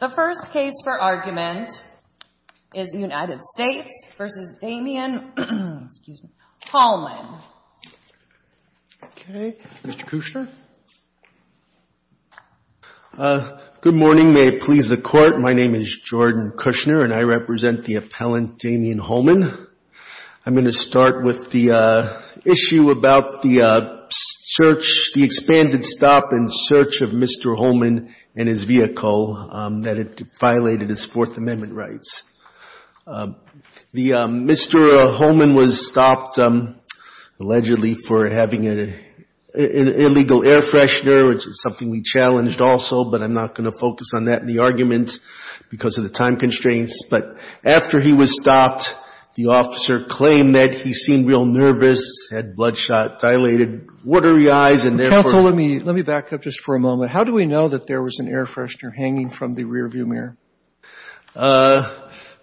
The first case for argument is United States v. Damion Hallmon. Okay. Mr. Kushner. Good morning. May it please the Court. My name is Jordan Kushner, and I represent the appellant Damion Hallmon. I'm going to start with the issue about the search, the expanded stop and search of Mr. Hallmon and his vehicle that had violated his Fourth Amendment rights. Mr. Hallmon was stopped allegedly for having an illegal air freshener, which is something we challenged also, but I'm not going to focus on that in the argument because of the time constraints. But after he was stopped, the officer claimed that he seemed real nervous, had bloodshot, dilated, watery eyes, and therefore Counsel, let me back up just for a moment. How do we know that there was an air freshener hanging from the rearview mirror? I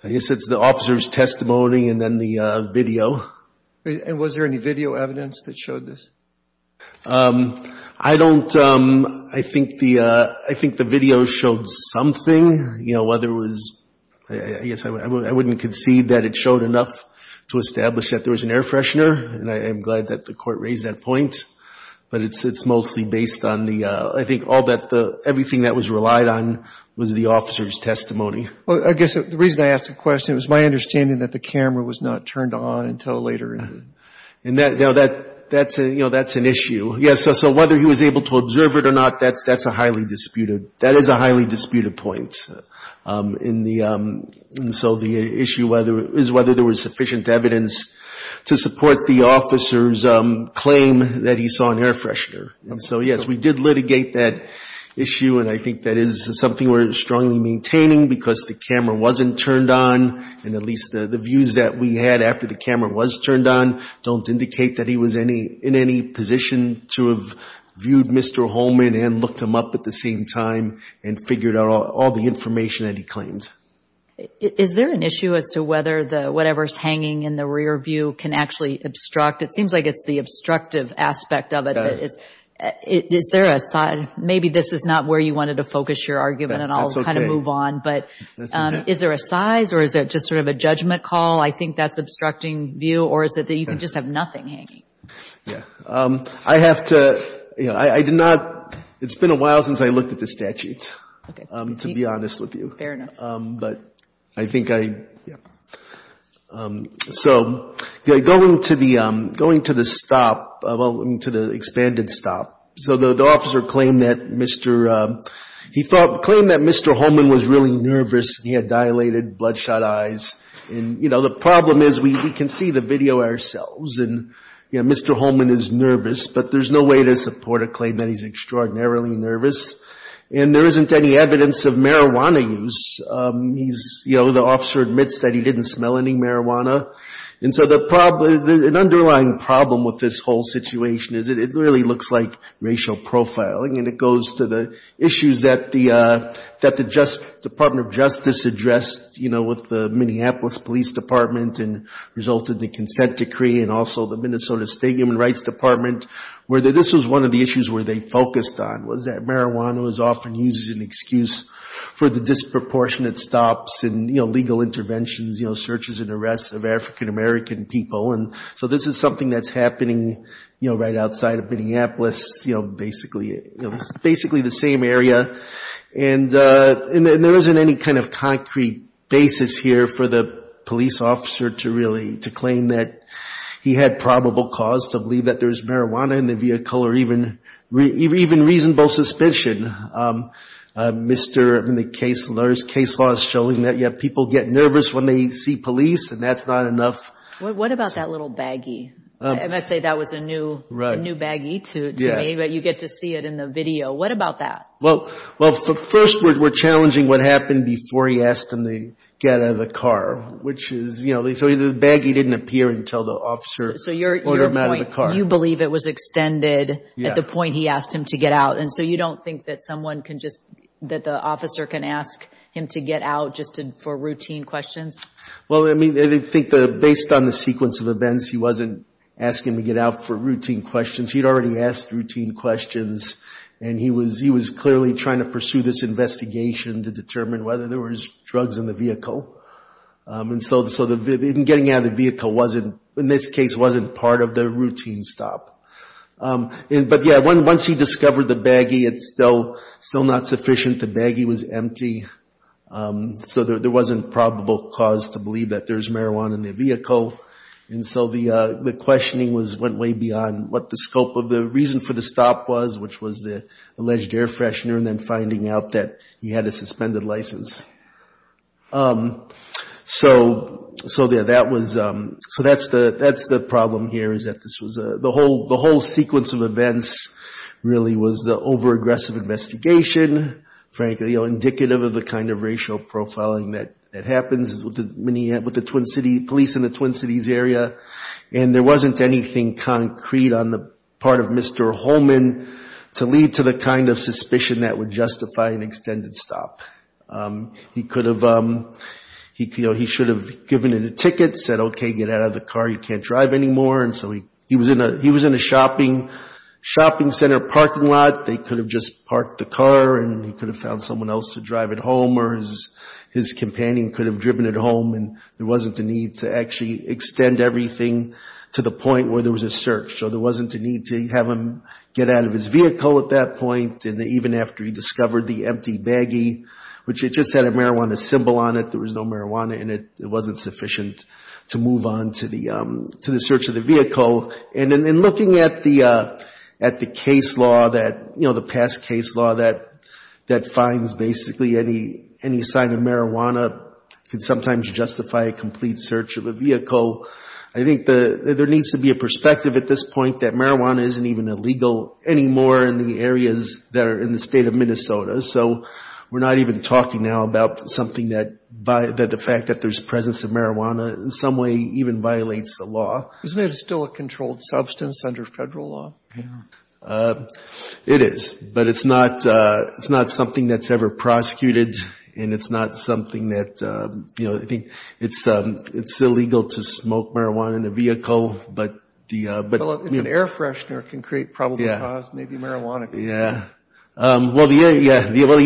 guess it's the officer's testimony and then the video. And was there any video evidence that showed this? I don't – I think the video showed something. You know, whether it was – I guess I wouldn't concede that it showed enough to establish that there was an air freshener, and I'm glad that the Court raised that point. But it's mostly based on the – I think all that the – everything that was relied on was the officer's testimony. Well, I guess the reason I asked the question, it was my understanding that the camera was not turned on until later. And that – you know, that's an issue. Yes, so whether he was able to observe it or not, that's a highly disputed – that is a highly disputed point in the – and so the issue is whether there was sufficient evidence to support the officer's claim that he saw an air freshener. And so, yes, we did litigate that issue, and I think that is something we're strongly maintaining because the camera wasn't turned on, and at least the views that we had after the camera was turned on don't indicate that he was any – in any position to have viewed Mr. Holman and looked him up at the same time and figured out all the information that he claimed. Is there an issue as to whether the – whatever's hanging in the rear view can actually obstruct? It seems like it's the obstructive aspect of it. Is there a – maybe this is not where you wanted to focus your argument, and I'll kind of move on. But is there a size, or is it just sort of a judgment call? I think that's obstructing view, or is it that you can just have nothing hanging? Yes. I have to – you know, I did not – it's been a while since I looked at the statute, to be honest with you. Fair enough. But I think I – yes. So going to the – going to the stop – well, to the expanded stop. So the officer claimed that Mr. – he thought – claimed that Mr. Holman was really nervous. He had dilated, bloodshot eyes. And, you know, the problem is we can see the video ourselves, and, you know, Mr. Holman is nervous, but there's no way to support a claim that he's extraordinarily nervous. And there isn't any evidence of marijuana use. He's – you know, the officer admits that he didn't smell any marijuana. And so the – an underlying problem with this whole situation is it really looks like racial profiling, and it goes to the issues that the – that the Department of Justice addressed, you know, with the Minneapolis Police Department and resulted in the consent decree and also the Minnesota State Human Rights Department, where this was one of the issues where they focused on, was that marijuana was often used as an excuse for the disproportionate stops and, you know, illegal interventions, you know, searches and arrests of African-American people. And so this is something that's happening, you know, right outside of Minneapolis, you know, basically. It's basically the same area. And there isn't any kind of concrete basis here for the police officer to really – to claim that he had probable cause to believe that there was marijuana in the vehicle or even reasonable suspicion. Mr. – I mean, the case law is showing that, yeah, people get nervous when they see police, and that's not enough. What about that little baggie? And I say that was a new baggie to me, but you get to see it in the video. What about that? Well, first, we're challenging what happened before he asked him to get out of the car, which is, you know, the baggie didn't appear until the officer ordered him out of the car. So your point, you believe it was extended at the point he asked him to get out, and so you don't think that someone can just – that the officer can ask him to get out just for routine questions? Well, I mean, I think based on the sequence of events, he wasn't asking to get out for routine questions. He'd already asked routine questions, and he was clearly trying to pursue this investigation to determine whether there was drugs in the vehicle. And so getting out of the vehicle wasn't – in this case, wasn't part of the routine stop. But, yeah, once he discovered the baggie, it's still not sufficient. The baggie was empty, so there wasn't probable cause to believe that there's marijuana in the vehicle. And so the questioning was – went way beyond what the scope of the reason for the stop was, which was the alleged air freshener, and then finding out that he had a suspended license. So, yeah, that was – so that's the problem here is that this was a – the whole sequence of events really was the over-aggressive investigation, frankly, indicative of the kind of racial profiling that happens with the Twin Cities – police in the Twin Cities area, and there wasn't anything concrete on the part of Mr. Holman to lead to the kind of suspicion that would justify an extended stop. He could have – you know, he should have given it a ticket, said, okay, get out of the car, you can't drive anymore. And so he was in a shopping center parking lot. They could have just parked the car, and he could have found someone else to drive it home, or his companion could have driven it home, and there wasn't the need to actually extend everything to the point where there was a search. So there wasn't a need to have him get out of his vehicle at that point, and even after he discovered the empty baggie, which it just had a marijuana symbol on it, there was no marijuana in it, it wasn't sufficient to move on to the search of the vehicle. And in looking at the case law that – you know, the past case law that finds basically any sign of marijuana could sometimes justify a complete search of a vehicle. So I think there needs to be a perspective at this point that marijuana isn't even illegal anymore in the areas that are in the state of Minnesota. So we're not even talking now about something that – the fact that there's presence of marijuana in some way even violates the law. Isn't it still a controlled substance under federal law? Yeah, it is, but it's not something that's ever prosecuted, and it's not something that – you know, I think it's illegal to smoke marijuana in a vehicle. But the – Well, if an air freshener can create probable cause, maybe marijuana can. Yeah. Well, the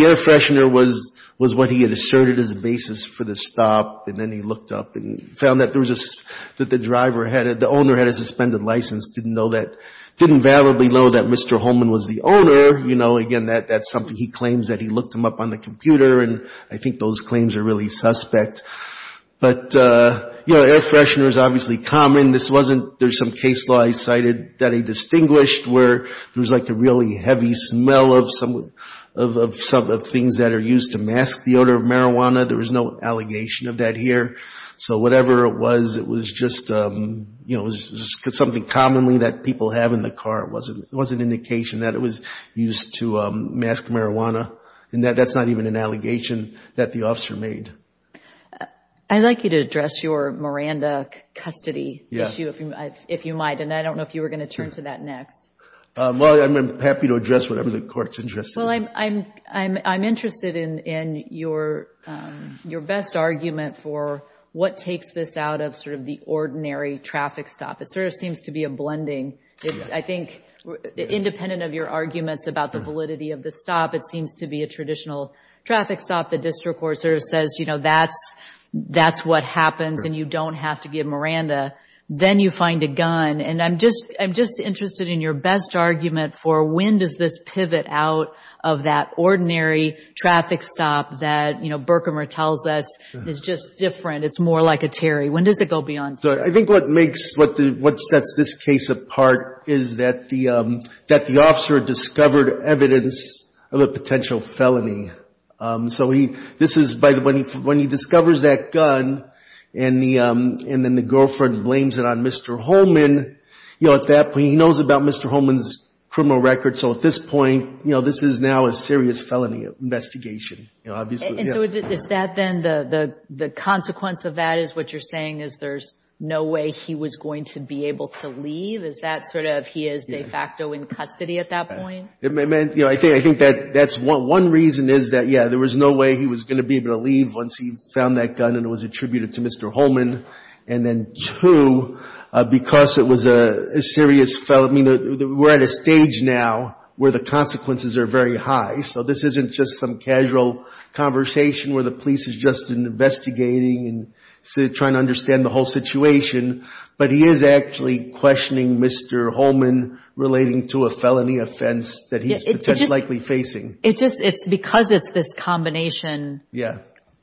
air freshener was what he had asserted as the basis for the stop, and then he looked up and found that there was a – that the driver had – the owner had a suspended license, didn't know that – didn't validly know that Mr. Holman was the owner. You know, again, that's something he claims that he looked him up on the computer, and I think those claims are really suspect. But, you know, air freshener is obviously common. This wasn't – there's some case law he cited that he distinguished where there was, like, a really heavy smell of some – of things that are used to mask the odor of marijuana. There was no allegation of that here. So whatever it was, it was just – you know, it was just something commonly that people have in the car. It wasn't an indication that it was used to mask marijuana, and that's not even an allegation that the officer made. I'd like you to address your Miranda custody issue if you might, and I don't know if you were going to turn to that next. Well, I'm happy to address whatever the court's interested in. Well, I'm interested in your best argument for what takes this out of sort of the ordinary traffic stop. It sort of seems to be a blending. I think independent of your arguments about the validity of the stop, it seems to be a traditional traffic stop. The district court sort of says, you know, that's what happens and you don't have to give Miranda. Then you find a gun. And I'm just interested in your best argument for when does this pivot out of that ordinary traffic stop that, you know, Berkemer tells us is just different. It's more like a Terry. When does it go beyond Terry? I think what sets this case apart is that the officer discovered evidence of a potential felony. So this is when he discovers that gun and then the girlfriend blames it on Mr. Holman. You know, at that point, he knows about Mr. Holman's criminal record. So at this point, you know, this is now a serious felony investigation. And so is that then the consequence of that is what you're saying is there's no way he was going to be able to leave? Is that sort of he is de facto in custody at that point? I think that's one reason is that, yeah, there was no way he was going to be able to leave once he found that gun and it was attributed to Mr. Holman. And then two, because it was a serious felony, we're at a stage now where the consequences are very high. So this isn't just some casual conversation where the police is just investigating and trying to understand the whole situation. But he is actually questioning Mr. Holman relating to a felony offense that he's likely facing. Because it's this combination,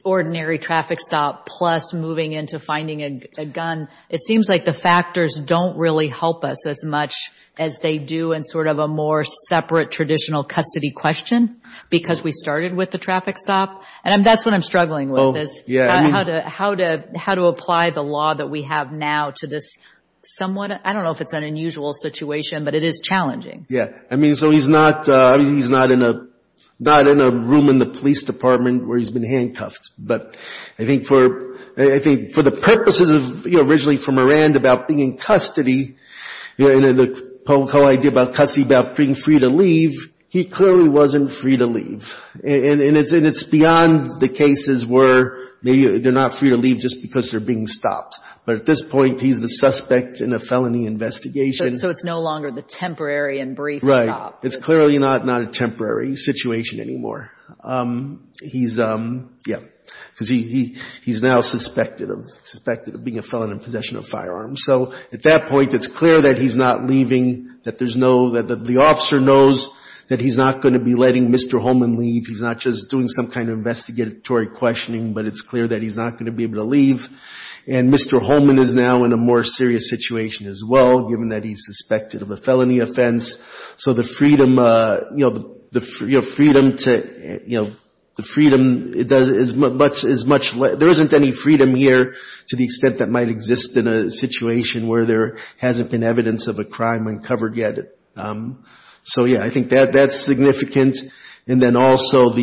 ordinary traffic stop plus moving into finding a gun, it seems like the factors don't really help us as much as they do in sort of a more separate, traditional custody question because we started with the traffic stop. And that's what I'm struggling with is how to apply the law that we have now to this somewhat, I don't know if it's an unusual situation, but it is challenging. Yeah. I mean, so he's not in a room in the police department where he's been handcuffed. But I think for the purposes of, you know, originally for Morand about being in custody and the whole idea about custody about being free to leave, he clearly wasn't free to leave. And it's beyond the cases where they're not free to leave just because they're being stopped. But at this point, he's the suspect in a felony investigation. So it's no longer the temporary and brief stop. Right. It's clearly not a temporary situation anymore. He's, yeah, because he's now suspected of being a felon in possession of firearms. So at that point, it's clear that he's not leaving, that there's no, that the officer knows that he's not going to be letting Mr. Holman leave. He's not just doing some kind of investigatory questioning, but it's clear that he's not going to be able to leave. And Mr. Holman is now in a more serious situation as well, given that he's suspected of a felony offense. So the freedom, you know, the freedom to, you know, the freedom is much less, there isn't any freedom here to the extent that might exist in a situation where there hasn't been evidence of a crime uncovered yet. So, yeah, I think that's significant. And then also the,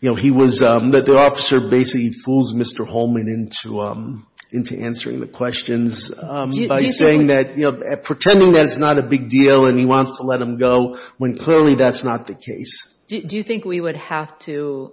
you know, he was, the officer basically fools Mr. Holman into answering the questions by saying that, you know, pretending that it's not a big deal and he wants to let him go, when clearly that's not the case. Do you think we would have to,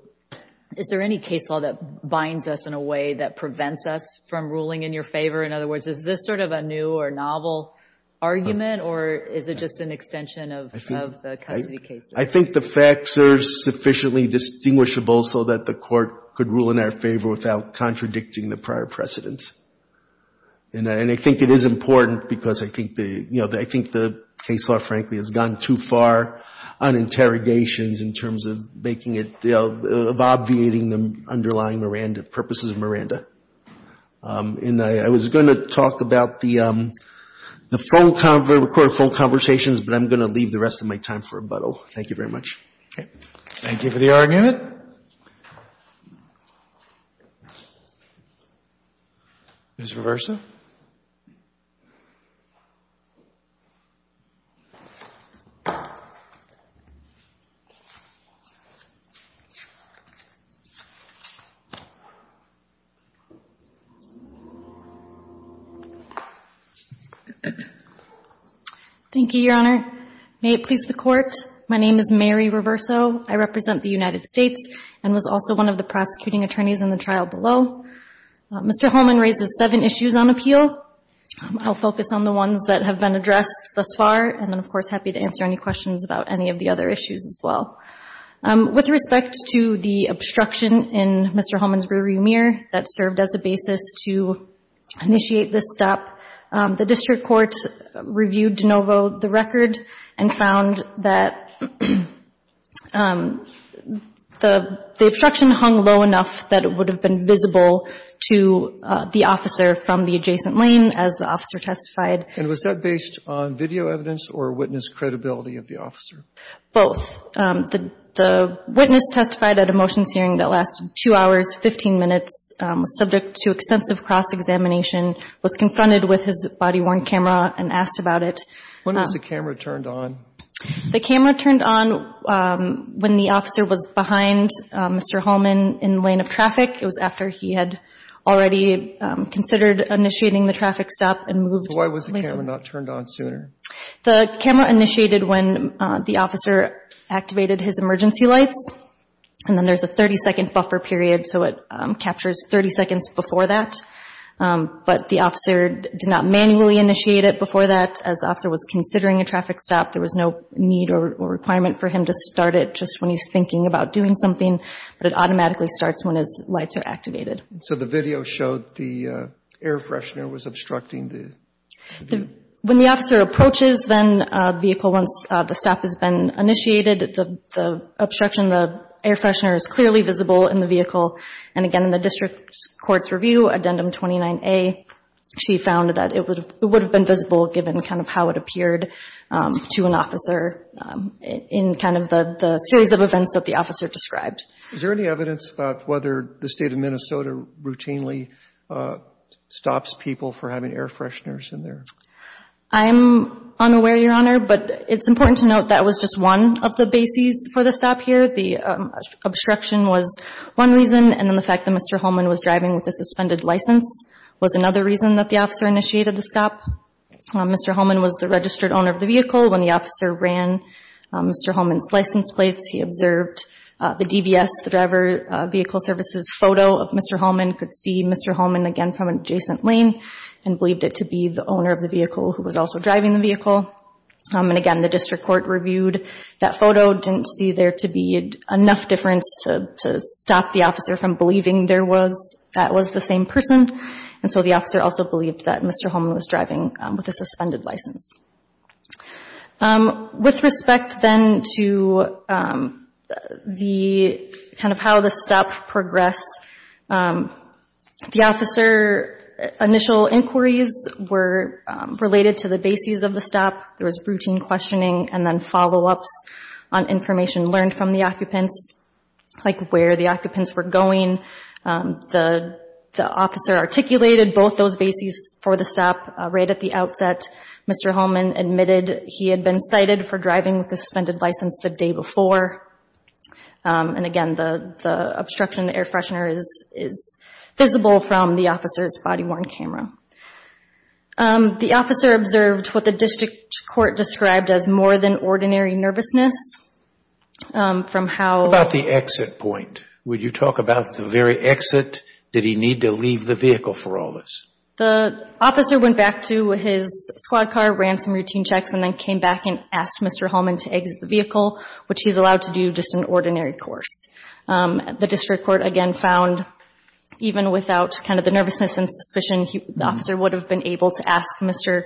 is there any case law that binds us in a way that prevents us from ruling in your favor? In other words, is this sort of a new or novel argument, or is it just an extension of the custody cases? I think the facts are sufficiently distinguishable so that the court could rule in our favor without contradicting the prior precedents. And I think it is important because I think the, you know, I think the case law, frankly, has gone too far on interrogations in terms of making it, you know, of obviating the underlying Miranda, purposes of Miranda. And I was going to talk about the phone conversations, but I'm going to leave the rest of my time for rebuttal. Thank you very much. Thank you for the argument. Ms. Reversa. Thank you, Your Honor. May it please the Court. My name is Mary Reverso. I represent the United States and was also one of the prosecuting attorneys in the trial below. Mr. Holman raises seven issues on appeal. I'll focus on the ones that have been addressed thus far, and then, of course, happy to answer any questions about any of the other issues as well. With respect to the obstruction in Mr. Holman's rear view mirror that served as a basis to initiate this stop, the district court reviewed de novo the record and found that the obstruction hung low enough that it would have been visible to the officer from the adjacent lane, as the officer testified. And was that based on video evidence or witness credibility of the officer? Both. The witness testified at a motions hearing that lasted two hours, 15 minutes, was subject to extensive cross-examination, was confronted with his body-worn camera, and asked about it. When was the camera turned on? The camera turned on when the officer was behind Mr. Holman in the lane of traffic. It was after he had already considered initiating the traffic stop and moved later. So why was the camera not turned on sooner? The camera initiated when the officer activated his emergency lights, and then there's a 30-second buffer period, so it captures 30 seconds before that. But the officer did not manually initiate it before that. As the officer was considering a traffic stop, there was no need or requirement for him to start it just when he's thinking about doing something, but it automatically starts when his lights are activated. So the video showed the air freshener was obstructing the view? When the officer approaches the vehicle once the stop has been initiated, the obstruction, the air freshener is clearly visible in the vehicle. And again, in the district court's review, Addendum 29A, she found that it would have been visible, given kind of how it appeared to an officer in kind of the series of events that the officer described. Is there any evidence about whether the State of Minnesota routinely stops people for having air fresheners in there? I'm unaware, Your Honor, but it's important to note that was just one of the bases for the stop here. The obstruction was one reason, and then the fact that Mr. Holman was driving with a suspended license was another reason that the officer initiated the stop. Mr. Holman was the registered owner of the vehicle. When the officer ran Mr. Holman's license plates, he observed the DVS, the Driver Vehicle Services photo of Mr. Holman, could see Mr. Holman again from an adjacent lane and believed it to be the owner of the vehicle who was also driving the vehicle. And again, the district court reviewed that photo, didn't see there to be enough difference to stop the officer from believing that was the same person. And so the officer also believed that Mr. Holman was driving with a suspended license. With respect then to the kind of how the stop progressed, the officer initial inquiries were related to the bases of the stop. There was routine questioning and then follow-ups on information learned from the occupants, like where the occupants were going. The officer articulated both those bases for the stop right at the outset. Mr. Holman admitted he had been cited for driving with a suspended license the day before. And again, the obstruction, the air freshener is visible from the officer's body-worn camera. The officer observed what the district court described as more than ordinary nervousness from how— What about the exit point? Would you talk about the very exit? Did he need to leave the vehicle for all this? The officer went back to his squad car, ran some routine checks, and then came back and asked Mr. Holman to exit the vehicle, which he's allowed to do just an ordinary course. The district court, again, found even without kind of the nervousness and suspicion, the officer would have been able to ask Mr.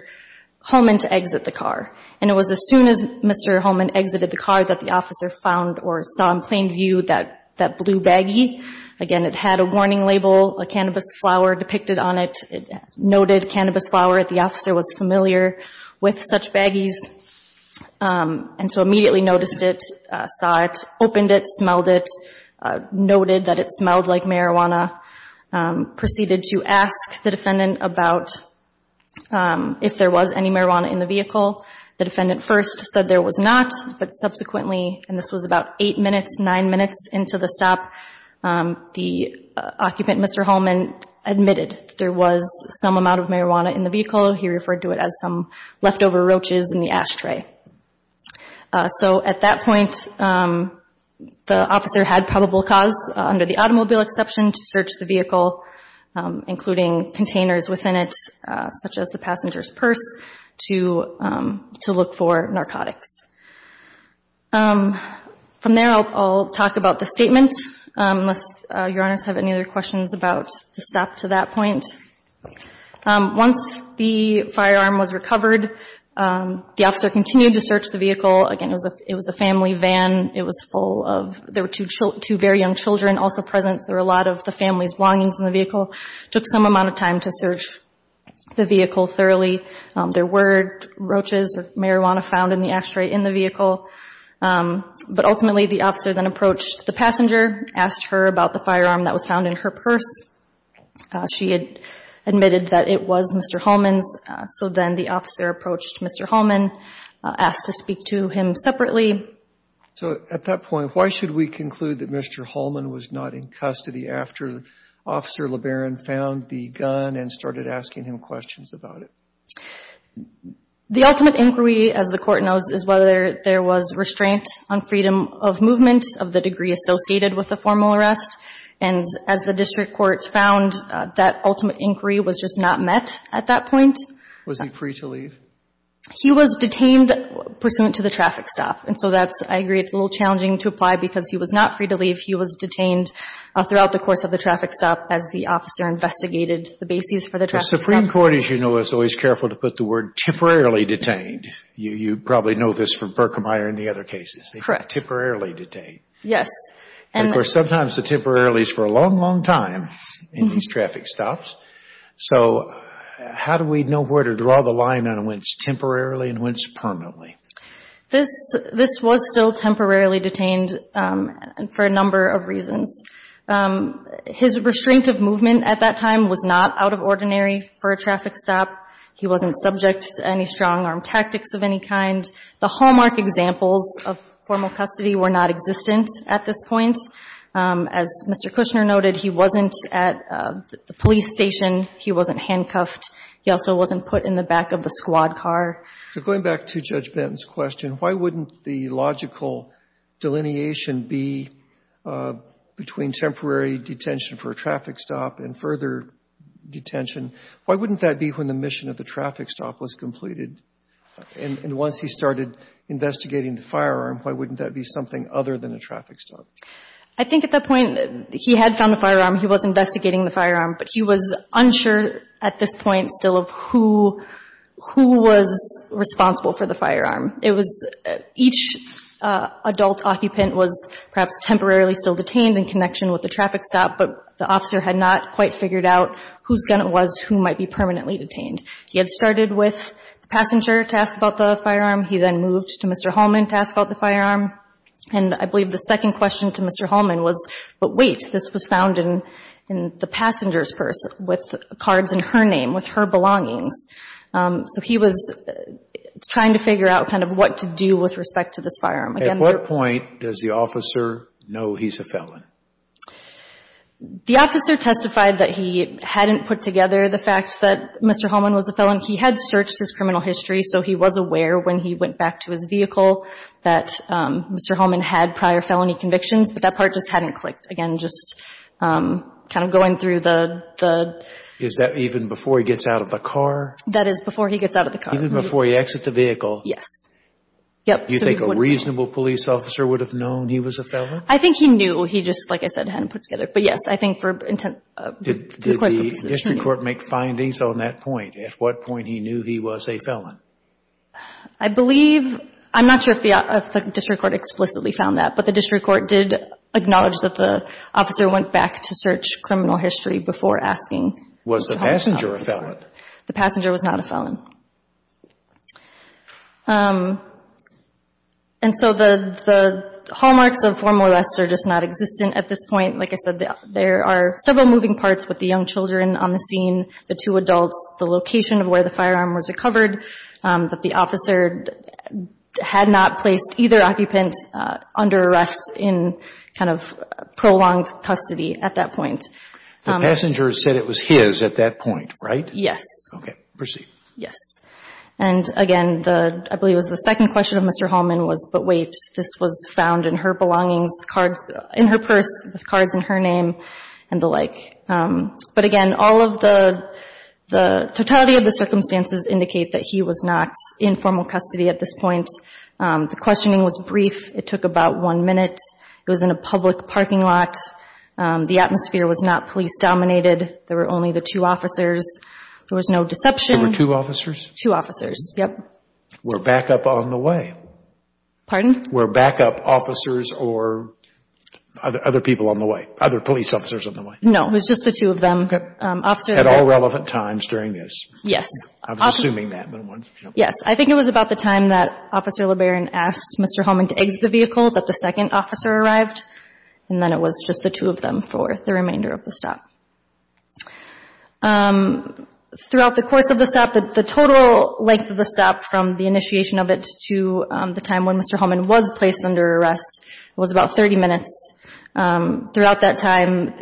Holman to exit the car. And it was as soon as Mr. Holman exited the car that the officer found or saw in plain view that blue baggie. Again, it had a warning label, a cannabis flower depicted on it. It noted cannabis flower. The officer was familiar with such baggies and so immediately noticed it, saw it, opened it, smelled it, noted that it smelled like marijuana, proceeded to ask the defendant about if there was any marijuana in the vehicle. The defendant first said there was not, but subsequently, and this was about eight minutes, nine minutes into the stop, the occupant, Mr. Holman, admitted there was some amount of marijuana in the vehicle. He referred to it as some leftover roaches in the ashtray. So at that point, the officer had probable cause, under the automobile exception, to search the vehicle, including containers within it, such as the passenger's purse, to look for narcotics. From there, I'll talk about the statement, unless Your Honors have any other questions about the stop to that point. Once the firearm was recovered, the officer continued to search the vehicle. Again, it was a family van. It was full of, there were two very young children also present. There were a lot of the family's belongings in the vehicle. It took some amount of time to search the vehicle thoroughly. There were roaches or marijuana found in the ashtray in the vehicle. But ultimately, the officer then approached the passenger, asked her about the firearm that was found in her purse. She had admitted that it was Mr. Holman's. So then the officer approached Mr. Holman, asked to speak to him separately. So at that point, why should we conclude that Mr. Holman was not in custody after Officer LeBaron found the gun and started asking him questions about it? The ultimate inquiry, as the Court knows, is whether there was restraint on freedom of movement of the degree associated with the formal arrest. And as the District Court found, that ultimate inquiry was just not met at that point. Was he free to leave? He was detained pursuant to the traffic stop. And so that's, I agree, it's a little challenging to apply because he was not free to leave. He was detained throughout the course of the traffic stop as the officer investigated the bases for the traffic stop. The Supreme Court, as you know, is always careful to put the word temporarily detained. You probably know this from Berkemeyer and the other cases. Correct. Temporarily detained. Yes. And, of course, sometimes the temporarily is for a long, long time in these traffic stops. So how do we know where to draw the line on when it's temporarily and when it's permanently? This was still temporarily detained for a number of reasons. His restraint of movement at that time was not out of ordinary for a traffic stop. He wasn't subject to any strong-arm tactics of any kind. The hallmark examples of formal custody were not existent at this point. As Mr. Kushner noted, he wasn't at the police station. He wasn't handcuffed. He also wasn't put in the back of the squad car. Going back to Judge Benton's question, why wouldn't the logical delineation be between temporary detention for a traffic stop and further detention? Why wouldn't that be when the mission of the traffic stop was completed? And once he started investigating the firearm, why wouldn't that be something other than a traffic stop? I think at that point, he had found the firearm. He was investigating the firearm. But he was unsure at this point still of who was responsible for the firearm. It was each adult occupant was perhaps temporarily still detained in connection with the traffic stop, but the officer had not quite figured out whose gun it was, who might be permanently detained. He had started with the passenger to ask about the firearm. He then moved to Mr. Holman to ask about the firearm. And I believe the second question to Mr. Holman was, but wait, this was found in the passenger's purse with cards in her name, with her belongings. So he was trying to figure out kind of what to do with respect to this firearm. At what point does the officer know he's a felon? The officer testified that he hadn't put together the fact that Mr. Holman was a felon. He had searched his criminal history, so he was aware when he went back to his vehicle that Mr. Holman had prior felony convictions, but that part just hadn't clicked. Again, just kind of going through the – Is that even before he gets out of the car? That is before he gets out of the car. Even before he exits the vehicle? Yes. You think a reasonable police officer would have known he was a felon? I think he knew. He just, like I said, hadn't put it together. But yes, I think for intent – Did the district court make findings on that point? At what point he knew he was a felon? I believe – I'm not sure if the district court explicitly found that, but the district court did acknowledge that the officer went back to search criminal history before asking Mr. Holman. Was the passenger a felon? The passenger was not a felon. And so the hallmarks of formal arrest are just not existent at this point. Like I said, there are several moving parts with the young children on the scene, the two adults, the location of where the firearm was recovered, that the officer had not placed either occupant under arrest in kind of prolonged custody at that point. The passenger said it was his at that point, right? Yes. Okay. Proceed. Yes. And, again, I believe it was the second question of Mr. Holman was, but wait, this was found in her belongings, in her purse with cards in her name and the like. But, again, all of the totality of the circumstances indicate that he was not in formal custody at this point. The questioning was brief. It took about one minute. It was in a public parking lot. The atmosphere was not police-dominated. There were only the two officers. There was no deception. There were two officers? Two officers, yes. Were backup on the way? Pardon? Were backup officers or other people on the way, other police officers on the way? No. It was just the two of them. At all relevant times during this? Yes. I was assuming that. Yes. I think it was about the time that Officer LeBaron asked Mr. Holman to exit the vehicle that the second officer arrived, and then it was just the two of them for the remainder of the stop. Throughout the course of the stop, the total length of the stop, from the initiation of it to the time when Mr. Holman was placed under arrest, was about 30 minutes. Throughout that time,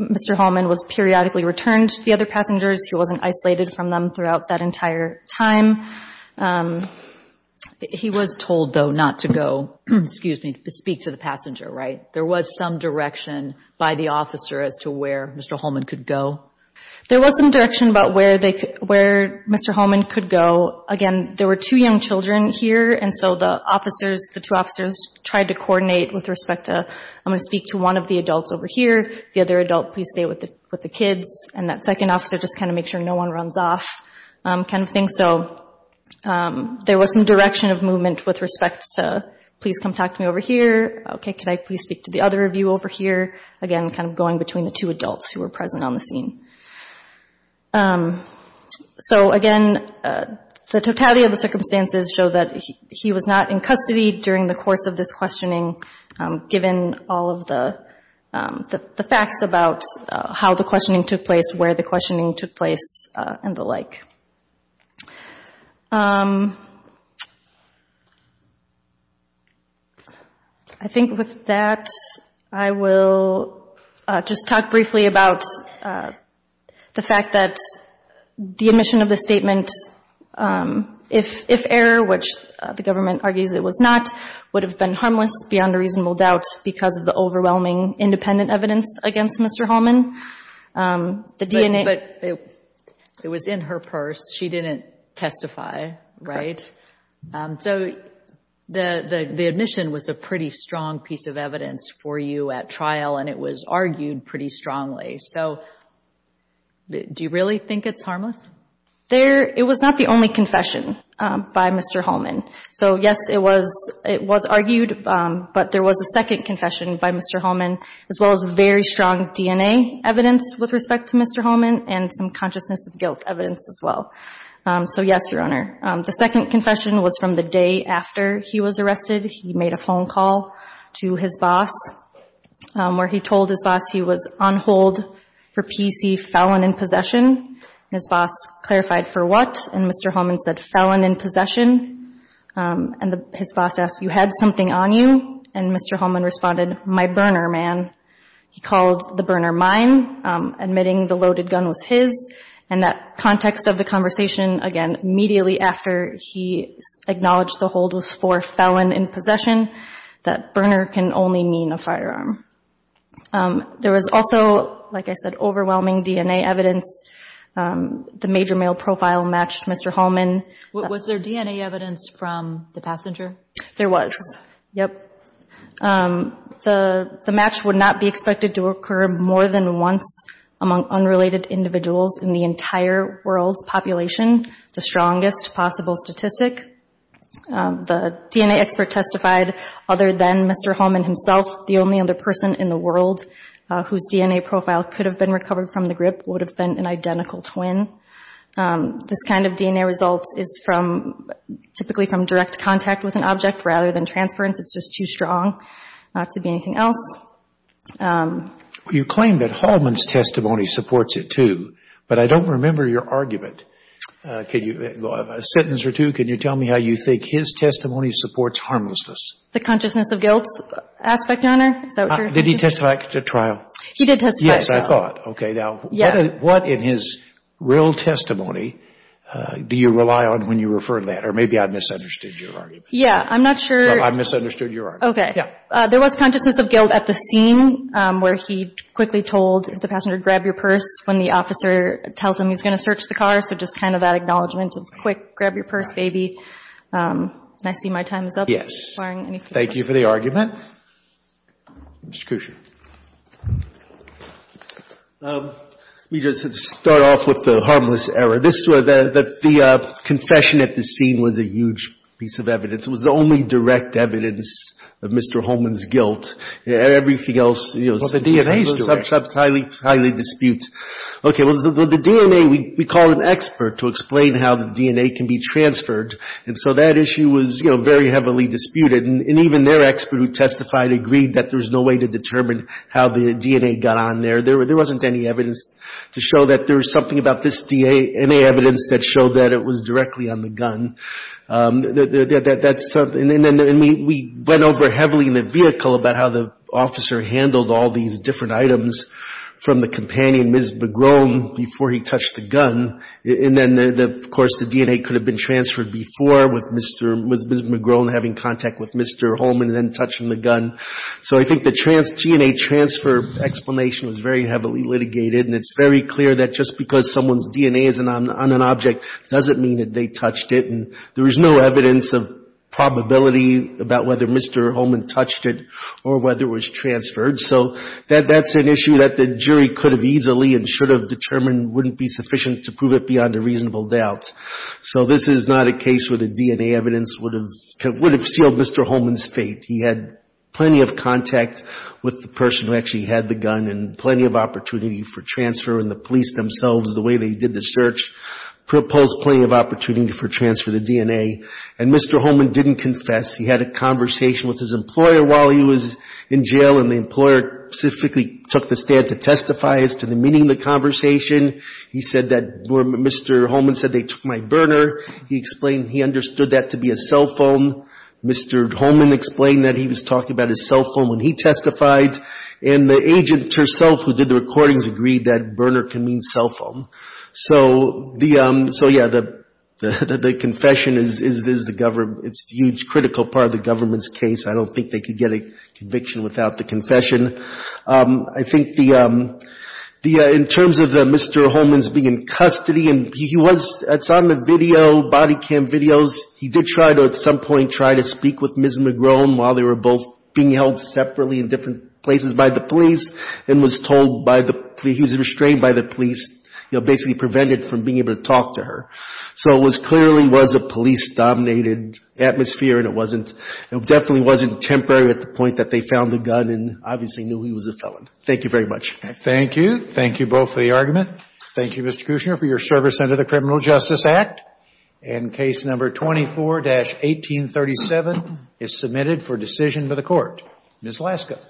Mr. Holman was periodically returned to the other passengers. He wasn't isolated from them throughout that entire time. He was told, though, not to go, excuse me, to speak to the passenger, right? There was some direction by the officer as to where Mr. Holman could go? There was some direction about where Mr. Holman could go. Again, there were two young children here, and so the officers, the two officers, tried to coordinate with respect to, I'm going to speak to one of the adults over here, the other adult, please stay with the kids, and that second officer just kind of makes sure no one runs off kind of thing. So there was some direction of movement with respect to, please come talk to me over here. Okay, can I please speak to the other of you over here? Again, kind of going between the two adults who were present on the scene. So again, the totality of the circumstances show that he was not in custody during the course of this questioning, given all of the facts about how the questioning took place, where the questioning took place, and the like. I think with that I will just talk briefly about the fact that the admission of the statement, if error, which the government argues it was not, would have been harmless beyond a reasonable doubt because of the overwhelming independent evidence against Mr. Holman. But it was in her purse. She didn't testify, right? So the admission was a pretty strong piece of evidence for you at trial, and it was argued pretty strongly. So do you really think it's harmless? It was not the only confession by Mr. Holman. So yes, it was argued, but there was a second confession by Mr. Holman, as well as very strong DNA evidence with respect to Mr. Holman and some consciousness of guilt evidence as well. So yes, Your Honor. The second confession was from the day after he was arrested. He made a phone call to his boss where he told his boss he was on hold for PC felon in possession. His boss clarified for what, and Mr. Holman said felon in possession. And his boss asked, you had something on you? And Mr. Holman responded, my burner, man. He called the burner mine, admitting the loaded gun was his. And that context of the conversation, again, immediately after he acknowledged the hold was for felon in possession, that burner can only mean a firearm. There was also, like I said, overwhelming DNA evidence. The major mail profile matched Mr. Holman. Was there DNA evidence from the passenger? There was. Yep. The match would not be expected to occur more than once among unrelated individuals in the entire world's population, the strongest possible statistic. The DNA expert testified, other than Mr. Holman himself, the only other person in the world whose DNA profile could have been recovered from the grip would have been an identical twin. This kind of DNA result is typically from direct contact with an object rather than transference. It's just too strong not to be anything else. You claim that Holman's testimony supports it, too, but I don't remember your argument. A sentence or two, can you tell me how you think his testimony supports harmlessness? The consciousness of guilt aspect on it? Did he testify at trial? He did testify at trial. Yes, I thought. Okay. Now, what in his real testimony do you rely on when you refer to that? Or maybe I misunderstood your argument. Yeah, I'm not sure. I misunderstood your argument. Okay. Yeah. There was consciousness of guilt at the scene where he quickly told the passenger, grab your purse, when the officer tells him he's going to search the car. So just kind of that acknowledgment of quick, grab your purse, baby. I see my time is up. Yes. Thank you for the argument. Mr. Cusher. Let me just start off with the harmless error. This was the confession at the scene was a huge piece of evidence. It was the only direct evidence of Mr. Holman's guilt. Everything else, you know, is highly, highly disputed. Well, the DNA, we called an expert to explain how the DNA can be transferred, and so that issue was, you know, very heavily disputed. And even their expert who testified agreed that there's no way to determine how the DNA got on there. There wasn't any evidence to show that there was something about this DNA, any evidence that showed that it was directly on the gun. And then we went over heavily in the vehicle about how the officer handled all these different items from the companion, Ms. McGrone, before he touched the gun. And then, of course, the DNA could have been transferred before, with Ms. McGrone having contact with Mr. Holman and then touching the gun. So I think the DNA transfer explanation was very heavily litigated, and it's very clear that just because someone's DNA is on an object doesn't mean that they touched it. And there was no evidence of probability about whether Mr. Holman touched it or whether it was transferred. So that's an issue that the jury could have easily and should have determined wouldn't be sufficient to prove it beyond a reasonable doubt. So this is not a case where the DNA evidence would have sealed Mr. Holman's fate. He had plenty of contact with the person who actually had the gun and plenty of opportunity for transfer. And the police themselves, the way they did the search, proposed plenty of opportunity for transfer of the DNA. And Mr. Holman didn't confess. He had a conversation with his employer while he was in jail, and the employer specifically took the stand to testify as to the meaning of the conversation. He said that Mr. Holman said they took my burner. He explained he understood that to be a cell phone. Mr. Holman explained that he was talking about his cell phone when he testified. And the agent herself who did the recordings agreed that burner can mean cell phone. So the, so yeah, the confession is the, it's a huge critical part of the government's case. I don't think they could get a conviction without the confession. I think the, in terms of Mr. Holman's being in custody, and he was, it's on the video, body cam videos. He did try to, at some point, try to speak with Ms. McGrone while they were both being held separately in different places by the police and was told by the, he was restrained by the police, you know, basically prevented from being able to talk to her. So it clearly was a police-dominated atmosphere, and it wasn't, it definitely wasn't temporary at the point that they found the gun. And obviously knew he was a felon. Thank you very much. Thank you. Thank you both for the argument. Thank you, Mr. Kushner, for your service under the Criminal Justice Act. And case number 24-1837 is submitted for decision by the Court. Ms. Laska.